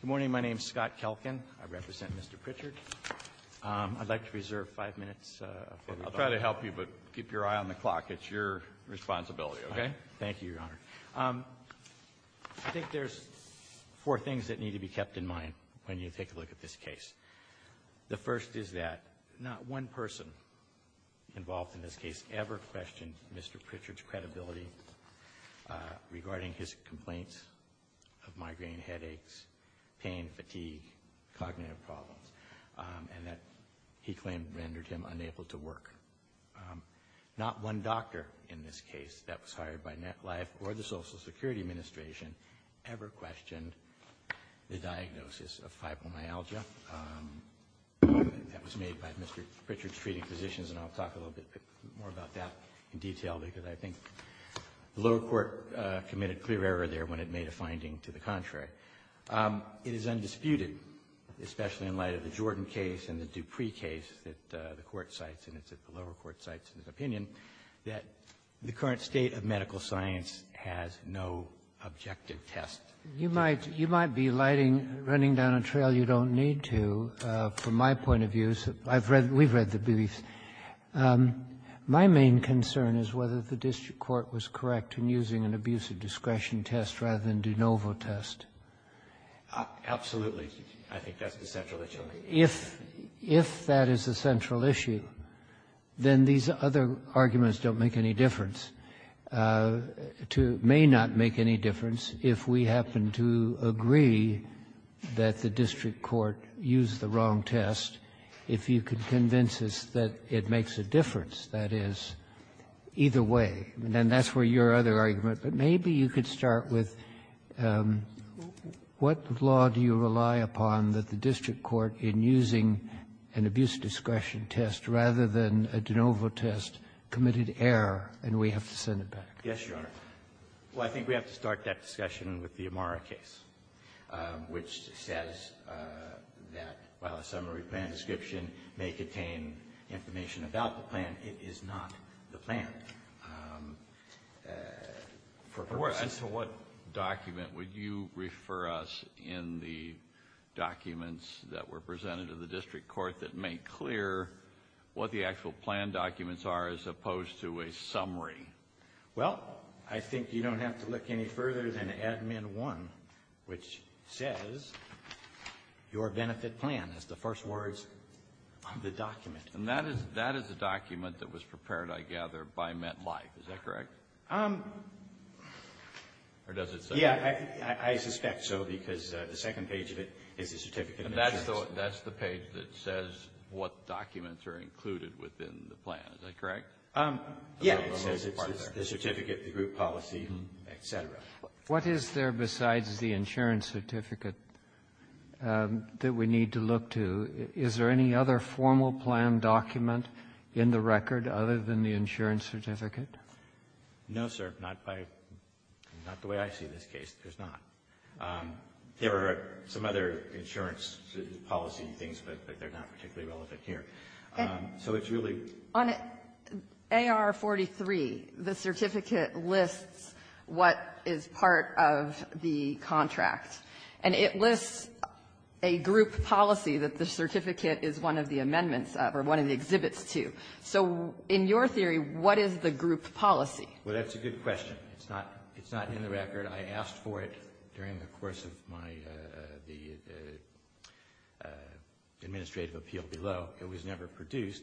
Good morning. My name is Scott Kelkin. I represent Mr. Prichard. I'd like to reserve five minutes for rebuttal. I'll try to help you, but keep your eye on the clock. It's your responsibility, okay? Thank you, Your Honor. I think there's four things that need to be kept in mind when you take a look at this case. The first is that not one person involved in this case ever questioned Mr. Prichard's credibility regarding his complaints of migraine, headaches, pain, fatigue, cognitive problems, and that he claimed rendered him unable to work. Not one doctor in this case that was hired by MetLife or the Social Security Administration ever questioned the diagnosis of fibromyalgia. That was made by Mr. Prichard's treating physicians, and I'll talk a little bit more about that in detail, because I think the lower court committed clear error there when it made a finding to the contrary. It is undisputed, especially in light of the Jordan case and the Dupree case that the Court cites, and it's at the lower court cites in its opinion, that the current state of medical science has no objective test. You might be running down a trail you don't need to, from my point of view. We've read the briefs. My main concern is whether the district court was correct in using an abuse of discretion test rather than de novo test. Absolutely. I think that's the central issue. If that is the central issue, then these other arguments don't make any difference to — may not make any difference if we happen to agree that the district court used the wrong test, if you could convince us that it makes a difference, that is, either way. And that's where your other argument — but maybe you could start with what law do you rely upon that the district court, in using an abuse of discretion test rather than a de novo test, committed error, and we have to send it back? Yes, Your Honor. Well, I think we have to start that discussion with the Amara case, which says that while a summary plan description may contain information about the plan, it is not the plan. For purposes of what document would you refer us in the documents that were presented to the district court that make clear what the actual plan documents are as opposed to a summary? Well, I think you don't have to look any further than Admin 1, which says your benefit plan is the first words on the document. And that is a document that was prepared, I gather, by MetLife, is that correct? Or does it say that? Yes, I suspect so, because the second page of it is a certificate of insurance. So that's the page that says what documents are included within the plan, is that correct? Yes, it's the certificate, the group policy, et cetera. What is there besides the insurance certificate that we need to look to? Is there any other formal plan document in the record other than the insurance certificate? No, sir. Not by the way I see this case, there's not. There are some other insurance policy things, but they're not particularly relevant here. So it's really — On AR-43, the certificate lists what is part of the contract. And it lists a group policy that the certificate is one of the amendments of or one of the exhibits to. So in your theory, what is the group policy? Well, that's a good question. It's not — it's not in the record. I asked for it during the course of my — the administrative appeal below. It was never produced.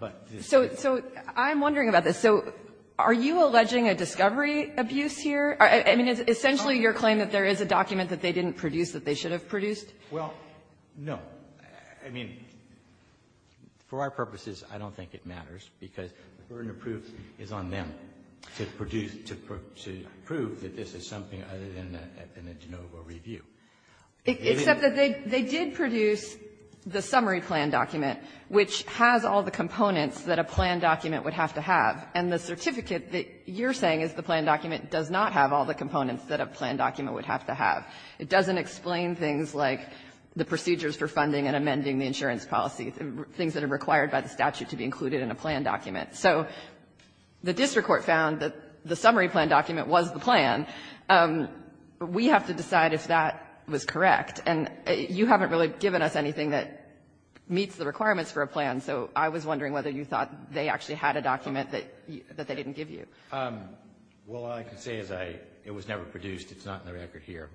But this — So — so I'm wondering about this. So are you alleging a discovery abuse here? I mean, it's essentially your claim that there is a document that they didn't produce that they should have produced? Well, no. I mean, for our purposes, I don't think it matters, because the burden of proof is on them to produce — to prove that this is something other than a de novo review. Except that they did produce the summary plan document, which has all the components that a plan document would have to have. And the certificate that you're saying is the plan document does not have all the components that a plan document would have to have. It doesn't explain things like the procedures for funding and amending the insurance policy, things that are required by the statute to be included in a plan document. So the district court found that the summary plan document was the plan. We have to decide if that was correct. And you haven't really given us anything that meets the requirements for a plan, so I was wondering whether you thought they actually had a document that — that they didn't give you. Well, all I can say is I — it was never produced. It's not in the record here.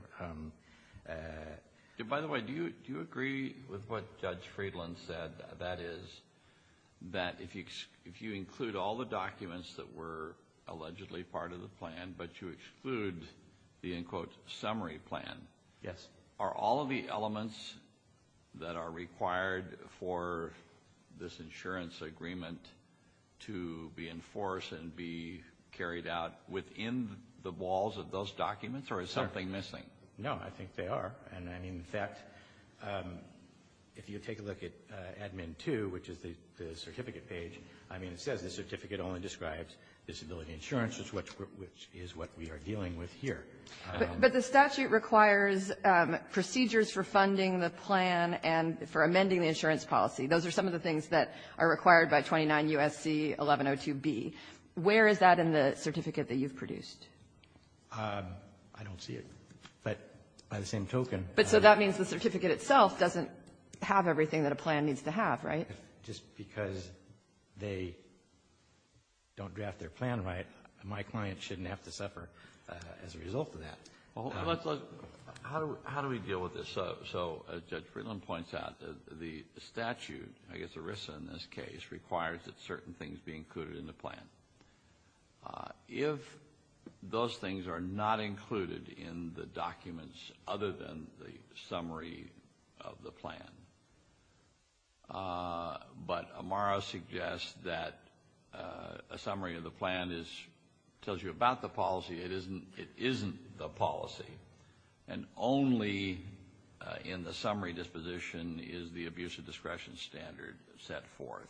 By the way, do you — do you agree with what Judge Friedland said, that is, that if you include all the documents that were allegedly part of the plan, but you exclude the, in quotes, summary plan — Yes. — are all of the elements that are required for this insurance agreement to be enforced and be carried out within the walls of those documents, or is something missing? No, I think they are. And I mean, in fact, if you take a look at Admin 2, which is the certificate page, I mean, it says the certificate only describes disability insurance, which is what we are dealing with here. But the statute requires procedures for funding the plan and for amending the insurance policy. Those are some of the things that are required by 29 U.S.C. 1102B. Where is that in the certificate that you've produced? I don't see it. But by the same token — But so that means the certificate itself doesn't have everything that a plan needs to have, right? Just because they don't draft their plan right, my client shouldn't have to suffer as a result of that. Well, let's look — how do we deal with this? So as Judge Friedland points out, the statute, I guess ERISA in this case, requires that certain things be included in the plan. If those things are not included in the documents other than the summary of the plan, but Amaro suggests that a summary of the plan tells you about the policy, it isn't the policy, and only in the summary disposition is the abuse of discretion standard set forth,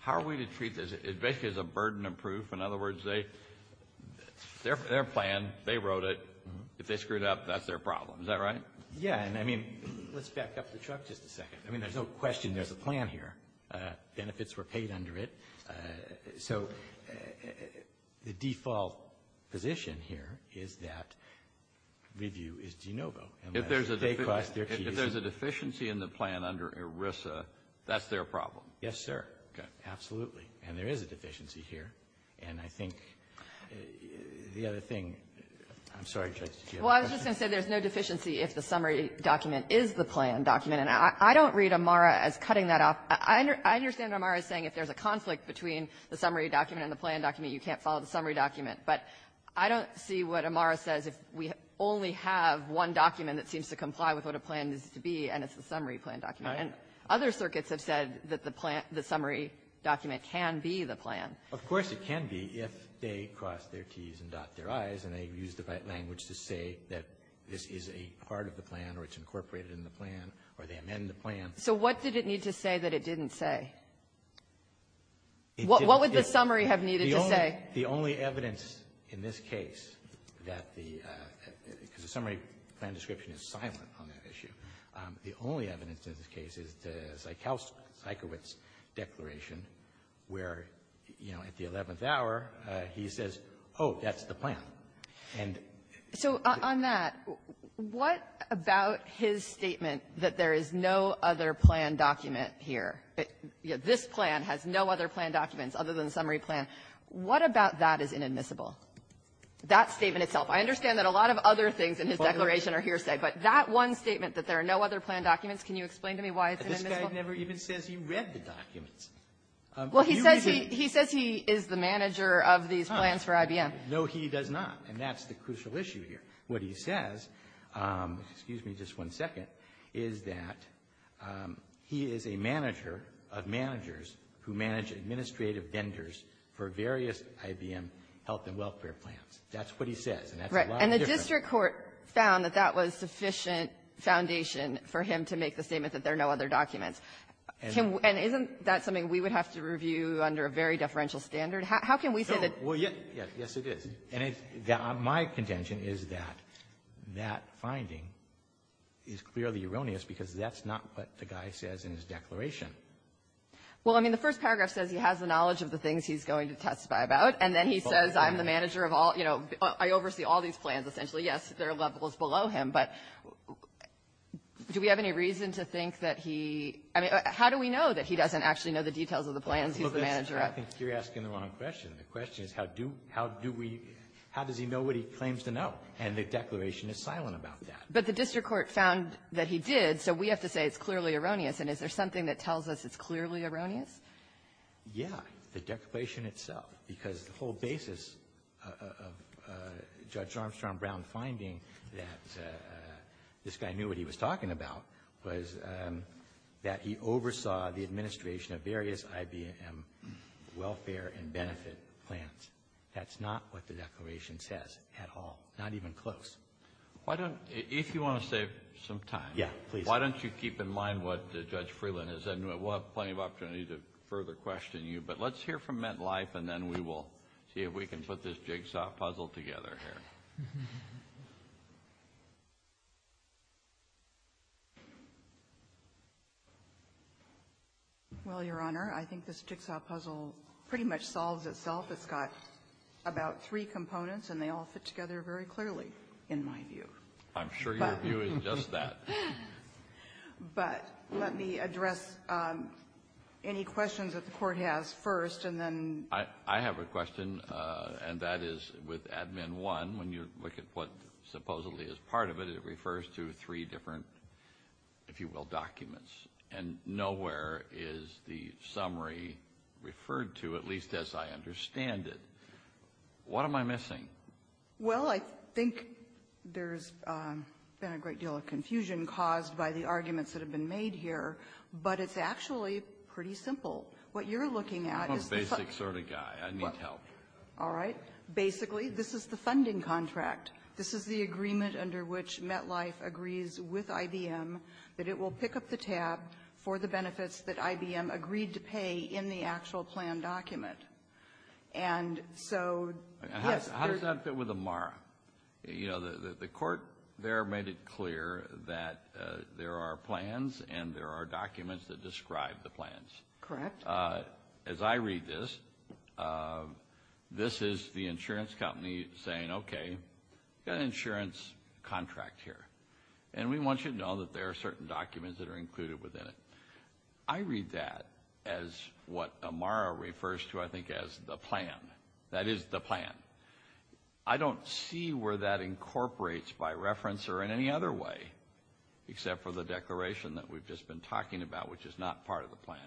how are we to treat this? It basically is a burden of proof. In other words, they — their plan, they wrote it. If they screwed up, that's their problem. Is that right? Yeah. And I mean, let's back up the chart just a second. I mean, there's no question there's a plan here. Benefits were paid under it. So the default position here is that review is de novo. If there's a — They cost their fees. If there's a deficiency in the plan under ERISA, that's their problem. Yes, sir. Okay. And there is a deficiency here. And I think the other thing — I'm sorry, Judge. Well, I was just going to say there's no deficiency if the summary document is the plan document. And I don't read Amaro as cutting that off. I understand Amaro is saying if there's a conflict between the summary document and the plan document, you can't follow the summary document. But I don't see what Amaro says if we only have one document that seems to comply with what a plan needs to be, and it's the summary plan document. And other circuits have said that the plan — the summary document can be the plan. Of course it can be if they cross their Ts and dot their Is and they use the right language to say that this is a part of the plan or it's incorporated in the plan or they amend the plan. So what did it need to say that it didn't say? What would the summary have needed to say? The only evidence in this case that the — because the summary plan description is silent on that issue. The only evidence in this case is the Zajkiewicz declaration where, you know, at the 11th hour, he says, oh, that's the plan. And — So on that, what about his statement that there is no other plan document here? This plan has no other plan documents other than the summary plan. What about that is inadmissible? That statement itself? I understand that a lot of other things in his declaration are hearsay, but that one statement that there are no other plan documents, can you explain to me why it's inadmissible? But this guy never even says he read the documents. Well, he says he — he says he is the manager of these plans for IBM. No, he does not. And that's the crucial issue here. What he says, excuse me just one second, is that he is a manager of managers who manage administrative vendors for various IBM health and welfare plans. That's what he says. And that's a lot different. But the district court found that that was sufficient foundation for him to make the statement that there are no other documents. And isn't that something we would have to review under a very deferential standard? How can we say that — Yes, it is. And my contention is that that finding is clearly erroneous because that's not what the guy says in his declaration. Well, I mean, the first paragraph says he has the knowledge of the things he's going to testify about, and then he says I'm the manager of all — you know, I oversee all these plans, essentially. Yes, their level is below him, but do we have any reason to think that he — I mean, how do we know that he doesn't actually know the details of the plans? He's the manager. I think you're asking the wrong question. The question is how do — how do we — how does he know what he claims to know? And the declaration is silent about that. But the district court found that he did, so we have to say it's clearly erroneous. And is there something that tells us it's clearly erroneous? Yeah, the declaration itself, because the whole basis of Judge Armstrong Brown finding that this guy knew what he was talking about was that he oversaw the administration of various IBM welfare and benefit plans. That's not what the declaration says at all, not even close. Why don't — if you want to save some time — Yeah, please. Why don't you keep in mind what Judge Freeland has said? We'll have plenty of opportunity to further question you. But let's hear from MetLife, and then we will see if we can put this jigsaw puzzle together here. Well, Your Honor, I think this jigsaw puzzle pretty much solves itself. It's got about three components, and they all fit together very clearly, in my view. I'm sure your view is just that. But let me address any questions that the Court has first, and then — I have a question, and that is with Admin 1. When you look at what supposedly is part of it, it refers to three different, if you will, documents. And nowhere is the summary referred to, at least as I understand it. What am I missing? Well, I think there's been a great deal of confusion caused by the arguments that have been made here, but it's actually pretty simple. What you're looking at is the — I'm a basic sort of guy. I need help. All right. Basically, this is the funding contract. This is the agreement under which MetLife agrees with IBM that it will pick up the tab for the benefits that IBM agreed to pay in the actual plan document. And so — How does that fit with AMARA? You know, the Court there made it clear that there are plans and there are documents that describe the plans. Correct. As I read this, this is the insurance company saying, okay, we've got an insurance contract here, and we want you to know that there are certain documents that are included within it. I read that as what AMARA refers to, I think, as the plan. That is the plan. I don't see where that incorporates by reference or in any other way, except for the declaration that we've just been talking about, which is not part of the plan.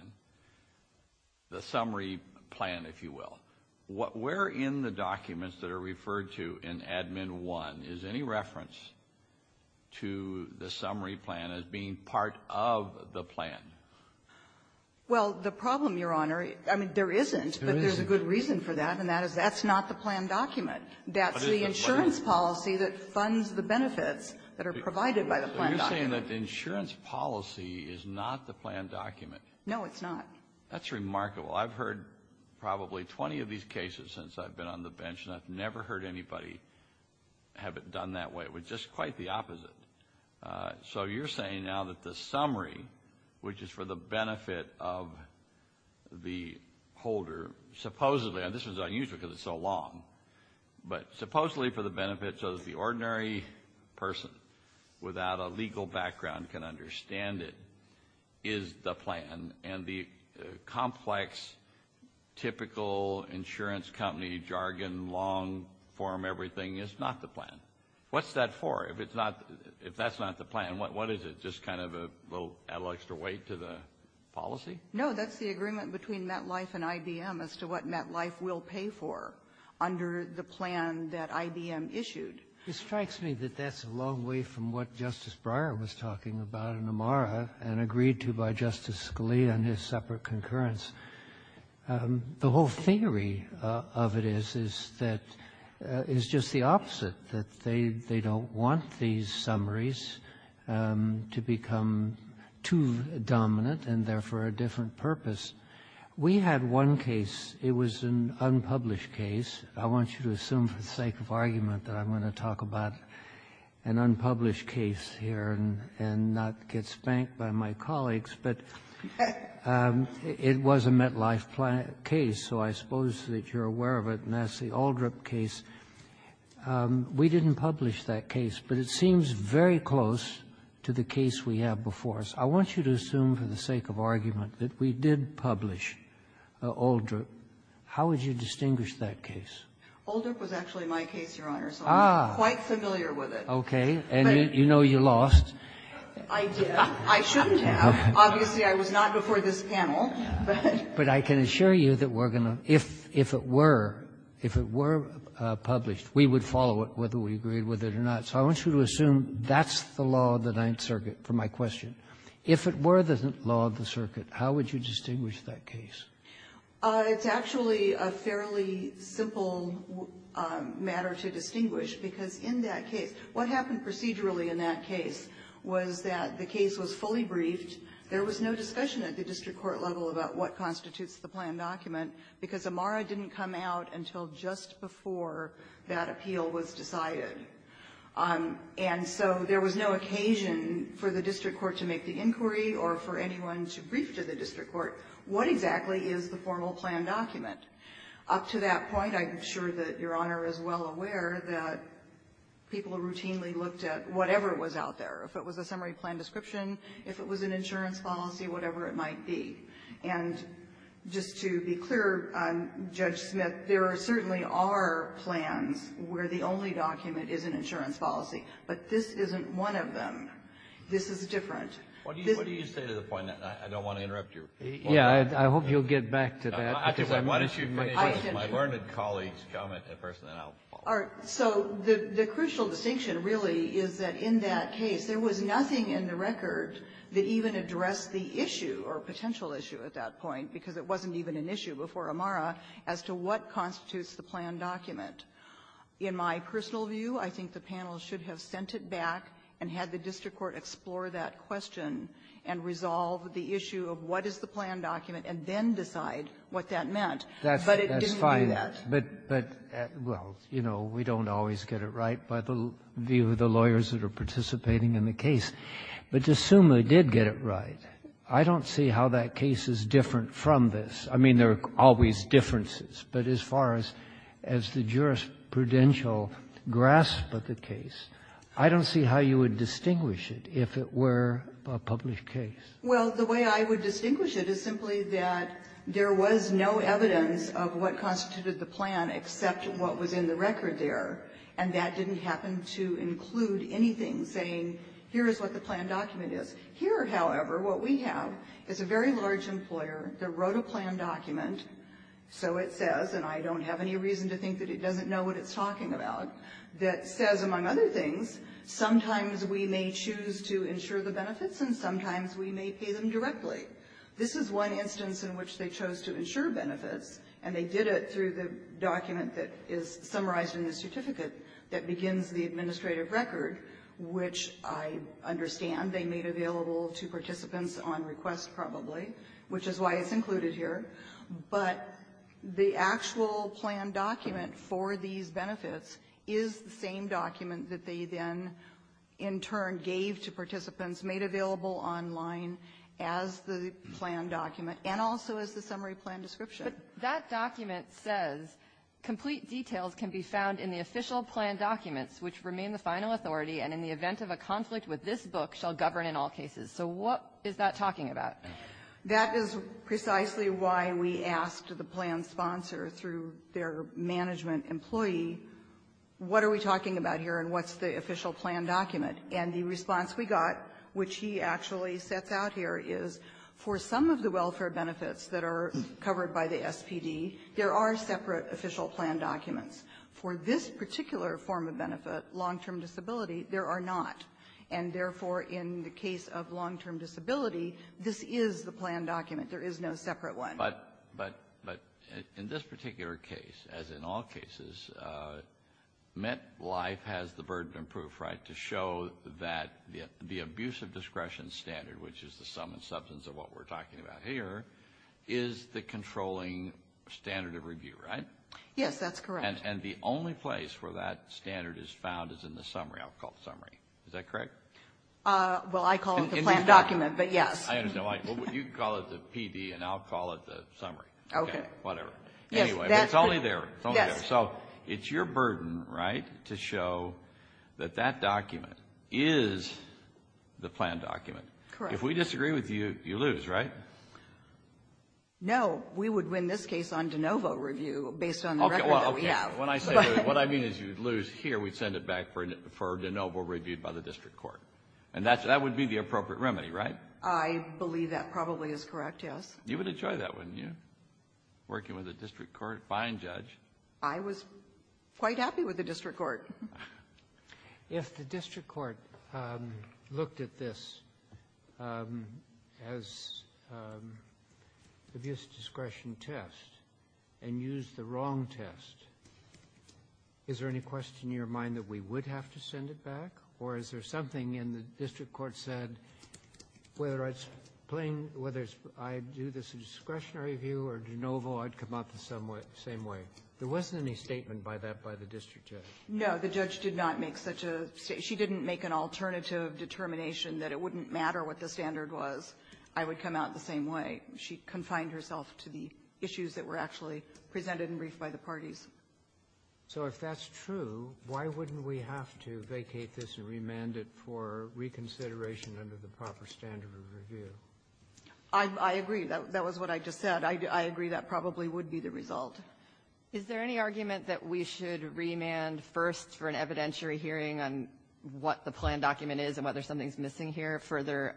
The summary plan, if you will. Where in the documents that are referred to in Admin 1 is any reference to the summary plan as being part of the plan? Well, the problem, Your Honor — I mean, there isn't, but there's a good reason for that, and that is that's not the plan document. That's the insurance policy that funds the benefits that are provided by the plan document. So you're saying that the insurance policy is not the plan document? No, it's not. That's remarkable. I've heard probably 20 of these cases since I've been on the bench, and I've never heard anybody have it done that way. It was just quite the opposite. So you're saying now that the summary, which is for the benefit of the holder, supposedly — and this is unusual because it's so long — but supposedly for the benefit so that the ordinary person without a legal background can understand it, is the plan, and the complex, typical insurance company jargon, long-form everything is not the plan. What's that for if it's not — if that's not the plan? What is it, just kind of a little extra weight to the policy? No, that's the agreement between MetLife and IBM as to what MetLife will pay for under the plan that IBM issued. It strikes me that that's a long way from what Justice Breyer was talking about in Amara and agreed to by Justice Scalia in his separate concurrence. The whole theory of it is that — is just the opposite, that they don't want these summaries to become too dominant and, therefore, a different purpose. We had one case. It was an unpublished case. I want you to assume for the sake of argument that I'm going to talk about an unpublished case here and not get spanked by my colleagues, but it was a MetLife case, so I suppose that you're aware of it, and that's the Aldrip case. We didn't publish that case, but it seems very close to the case we have before us. I want you to assume for the sake of argument that we did publish Aldrip. How would you distinguish that case? Aldrip was actually my case, Your Honor, so I'm quite familiar with it. Okay. And you know you lost. I did. I shouldn't have. Obviously, I was not before this panel. But I can assure you that we're going to — if it were, if it were published, we would follow it whether we agreed with it or not. So I want you to assume that's the law of the Ninth Circuit for my question. If it were the law of the circuit, how would you distinguish that case? It's actually a fairly simple matter to distinguish because in that case, what happened procedurally in that case was that the case was fully briefed. There was no discussion at the district court level about what constitutes the planned document because Amara didn't come out until just before that appeal was decided. And so there was no occasion for the district court to make the inquiry or for anyone to brief to the district court what exactly is the formal planned document. Up to that point, I'm sure that Your Honor is well aware that people routinely looked at whatever was out there, if it was a summary plan description, if it was an insurance policy, whatever it might be. And just to be clear, Judge Smith, there certainly are plans where the only document is an insurance policy. But this isn't one of them. This is different. Kennedy. What do you say to the point? I don't want to interrupt you. Yeah. I hope you'll get back to that. My learned colleague's comment, and then I'll follow up. All right. So the crucial distinction really is that in that case, there was nothing in the record that even addressed the issue or potential issue at that point because it wasn't even an issue before Amara as to what constitutes the planned document. In my personal view, I think the panel should have sent it back and had the district court explore that question and resolve the issue of what is the planned document and then decide what that meant. But it didn't do that. That's fine. But, well, you know, we don't always get it right by the view of the lawyers that are participating in the case. But DeSuma did get it right. I don't see how that case is different from this. I mean, there are always differences. But as far as the jurisprudential grasp of the case, I don't see how you would distinguish it if it were a published case. Well, the way I would distinguish it is simply that there was no evidence of what constituted the plan except what was in the record there, and that didn't happen to include anything saying here is what the planned document is. Here, however, what we have is a very large employer that wrote a planned document, so it says, and I don't have any reason to think that it doesn't know what it's benefits, and sometimes we may pay them directly. This is one instance in which they chose to insure benefits, and they did it through the document that is summarized in the certificate that begins the administrative record, which I understand they made available to participants on request probably, which is why it's included here. But the actual planned document for these benefits is the same document that they then in turn gave to participants, made available online as the planned document and also as the summary plan description. But that document says complete details can be found in the official plan documents which remain the final authority and in the event of a conflict with this book shall govern in all cases. So what is that talking about? That is precisely why we asked the planned sponsor through their management employee, what are we talking about here and what's the official plan document? And the response we got, which he actually sets out here, is for some of the welfare benefits that are covered by the SPD, there are separate official plan documents. For this particular form of benefit, long-term disability, there are not. And therefore, in the case of long-term disability, this is the planned document. There is no separate one. But in this particular case, as in all cases, MetLife has the burden of proof, right, to show that the abuse of discretion standard, which is the sum and substance of what we're talking about here, is the controlling standard of review, right? Yes, that's correct. And the only place where that standard is found is in the summary, I'll call it summary. Is that correct? Well, I call it the planned document, but yes. I understand. You call it the PD and I'll call it the summary. Okay. Whatever. Anyway, it's only there. It's only there. So it's your burden, right, to show that that document is the planned document. Correct. If we disagree with you, you lose, right? No, we would win this case on de novo review based on the record that we have. Okay, well, okay. When I say, what I mean is you would lose here, we'd send it back for de novo review by the district court. And that would be the appropriate remedy, right? I believe that probably is correct, yes. You would enjoy that, wouldn't you, working with a district court fine judge? I was quite happy with the district court. If the district court looked at this as abuse discretion test and used the wrong test, is there any question in your mind that we would have to send it back? Or is there something in the district court said whether it's playing, whether it's I do this discretionary review or de novo, I'd come out the same way? There wasn't any statement by that by the district judge. No. The judge did not make such a statement. She didn't make an alternative determination that it wouldn't matter what the standard was. I would come out the same way. She confined herself to the issues that were actually presented in brief by the parties. So if that's true, why wouldn't we have to vacate this and remand it for reconsideration under the proper standard of review? I agree. That was what I just said. I agree that probably would be the result. Is there any argument that we should remand first for an evidentiary hearing on what the plan document is and whether something is missing here, further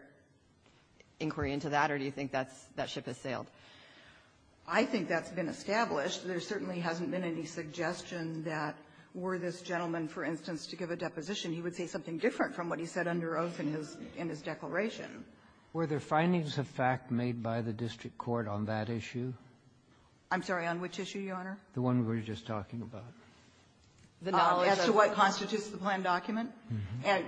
inquiry into that? Or do you think that ship has sailed? I think that's been established. There certainly hasn't been any suggestion that were this gentleman, for instance, to give a deposition, he would say something different from what he said under oath in his declaration. Were there findings of fact made by the district court on that issue? I'm sorry. On which issue, Your Honor? The one we were just talking about. The knowledge of the plan document?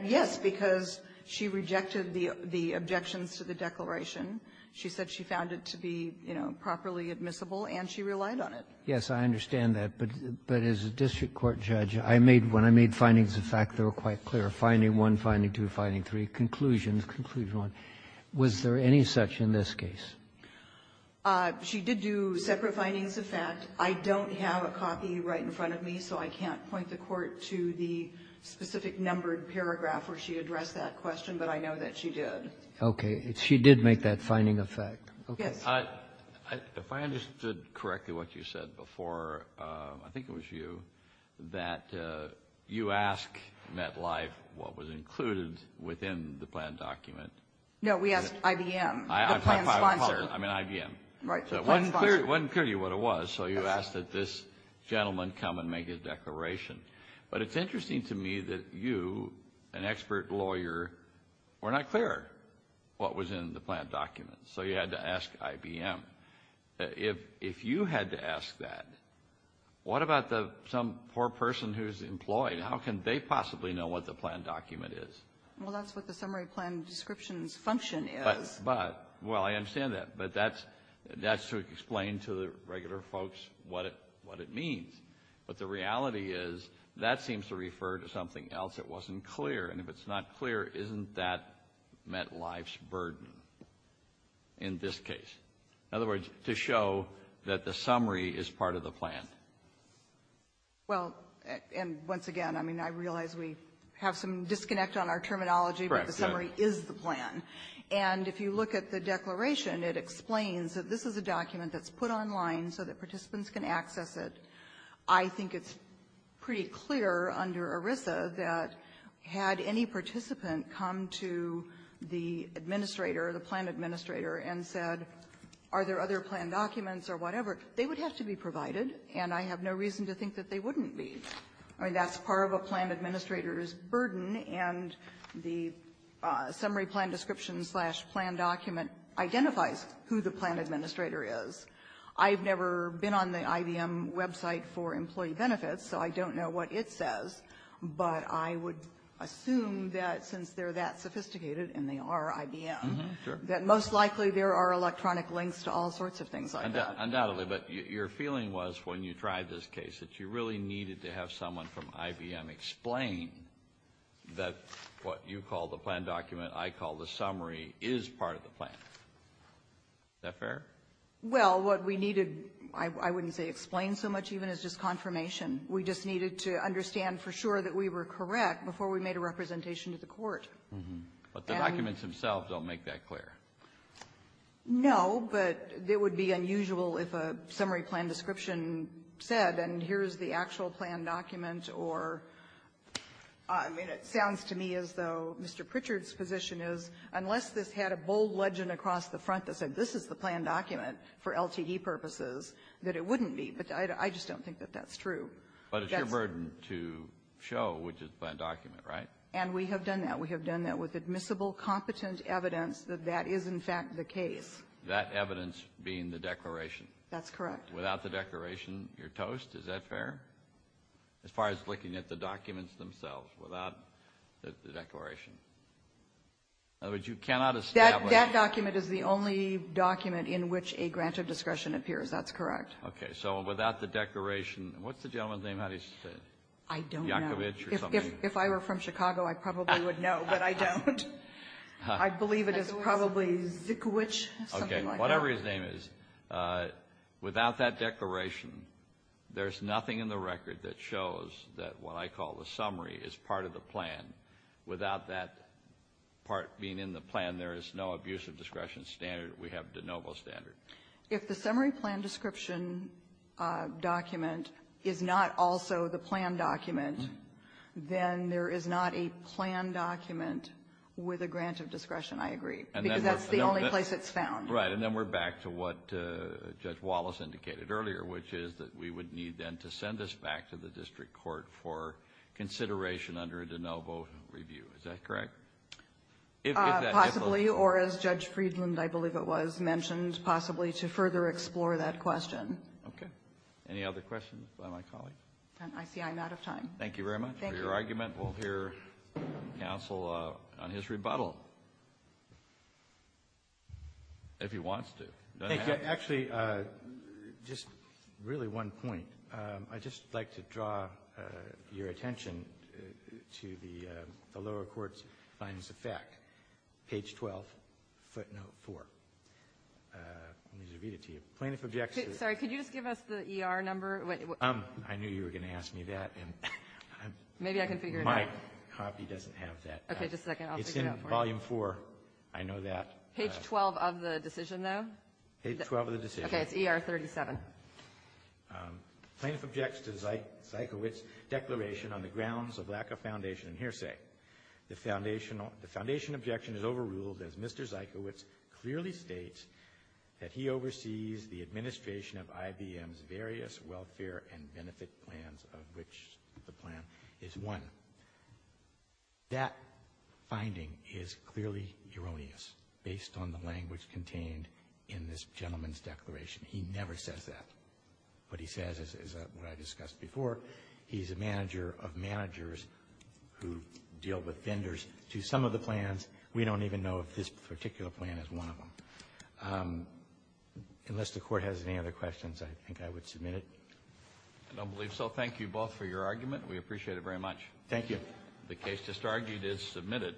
Yes, because she rejected the objections to the declaration. She said she found it to be, you know, properly admissible, and she relied on it. Yes, I understand that. But as a district court judge, I made one. I made findings of fact that were quite clear. Finding one, finding two, finding three, conclusions, conclusion one. Was there any such in this case? She did do separate findings of fact. I don't have a copy right in front of me, so I can't point the Court to the specific numbered paragraph where she addressed that question, but I know that she did. Okay. She did make that finding of fact. Yes. If I understood correctly what you said before, I think it was you, that you ask MetLife what was included within the plan document. No, we asked IBM, the plan sponsor. I mean IBM. Right, the plan sponsor. So it wasn't clear to you what it was, so you asked that this gentleman come and make his declaration. But it's interesting to me that you, an expert lawyer, were not clear what was in the plan document, so you had to ask IBM. If you had to ask that, what about some poor person who's employed? How can they possibly know what the plan document is? Well, that's what the summary plan descriptions function is. But, well, I understand that, but that's to explain to the regular folks what it means. But the reality is, that seems to refer to something else that wasn't clear. And if it's not clear, isn't that MetLife's burden in this case? In other words, to show that the summary is part of the plan. Well, and once again, I mean, I realize we have some disconnect on our terminology, but the summary is the plan. And if you look at the declaration, it explains that this is a document that's put online so that participants can access it. I think it's pretty clear under ERISA that had any participant come to the administrator, the plan administrator, and said, are there other plan documents or whatever, they would have to be provided, and I have no reason to think that they wouldn't be. I mean, that's part of a plan administrator's burden, and the summary plan description slash plan document identifies who the plan administrator is. I've never been on the IBM website for employee benefits, so I don't know what it says, but I would assume that since they're that sophisticated, and they are IBM, that most likely there are electronic links to all sorts of things like that. Undoubtedly. But your feeling was, when you tried this case, that you really needed to have someone from IBM explain that what you call the plan document, I call the summary, is part of the plan. Is that fair? Well, what we needed, I wouldn't say explained so much even, is just confirmation. We just needed to understand for sure that we were correct before we made a representation to the Court. But the documents themselves don't make that clear. No, but it would be unusual if a summary plan description said, and here's the actual plan document, or, I mean, it sounds to me as though Mr. Pritchard's position is, unless this had a bold legend across the front that said, this is the plan document for LTE purposes, that it wouldn't be. But I just don't think that that's true. But it's your burden to show which is the plan document, right? And we have done that. We have done that with admissible, competent evidence that that is, in fact, the case. That evidence being the declaration? That's correct. Without the declaration, you're toast? Is that fair? As far as looking at the documents themselves without the declaration? In other words, you cannot establish That document is the only document in which a grant of discretion appears. That's correct. Okay. So without the declaration, what's the gentleman's name? How do you say it? I don't know. Yakovitch or something? If I were from Chicago, I probably would know, but I don't. I believe it is probably Zikovitch, something like that. Okay. Whatever his name is, without that declaration, there's nothing in the record that shows that what I call the summary is part of the plan. Without that part being in the plan, there is no abuse of discretion standard. We have de novo standard. If the summary plan description document is not also the plan document, then there is not a plan document with a grant of discretion, I agree, because that's the only place it's found. Right. And then we're back to what Judge Wallace indicated earlier, which is that we would need, then, to send this back to the district court for consideration under a de novo review. Is that correct? Possibly. Or, as Judge Friedland, I believe it was, mentioned, possibly to further explore that question. Okay. Any other questions by my colleagues? I see I'm out of time. Thank you very much for your argument. Thank you. We'll hear counsel on his rebuttal, if he wants to. Thank you. Actually, just really one point. I'd just like to draw your attention to the lower court's finest effect, page 12, footnote 4. Let me just read it to you. Plaintiff objects to the ---- Sorry. Could you just give us the E.R. number? I knew you were going to ask me that. Maybe I can figure it out. My copy doesn't have that. Okay. Just a second. I'll figure it out for you. It's in volume 4. I know that. Page 12 of the decision, though? Page 12 of the decision. Okay. It's E.R. 37. Plaintiff objects to Zeikowitz's declaration on the grounds of lack of foundation and hearsay. The foundation objection is overruled as Mr. Zeikowitz clearly states that he oversees the administration of IBM's various welfare and benefit plans, of which the plan is one. That finding is clearly erroneous based on the language contained in this gentleman's declaration. He never says that. What he says is what I discussed before. He's a manager of managers who deal with vendors to some of the plans. We don't even know if this particular plan is one of them. Unless the Court has any other questions, I think I would submit it. I don't believe so. Thank you both for your argument. We appreciate it very much. Thank you. The case just argued is submitted.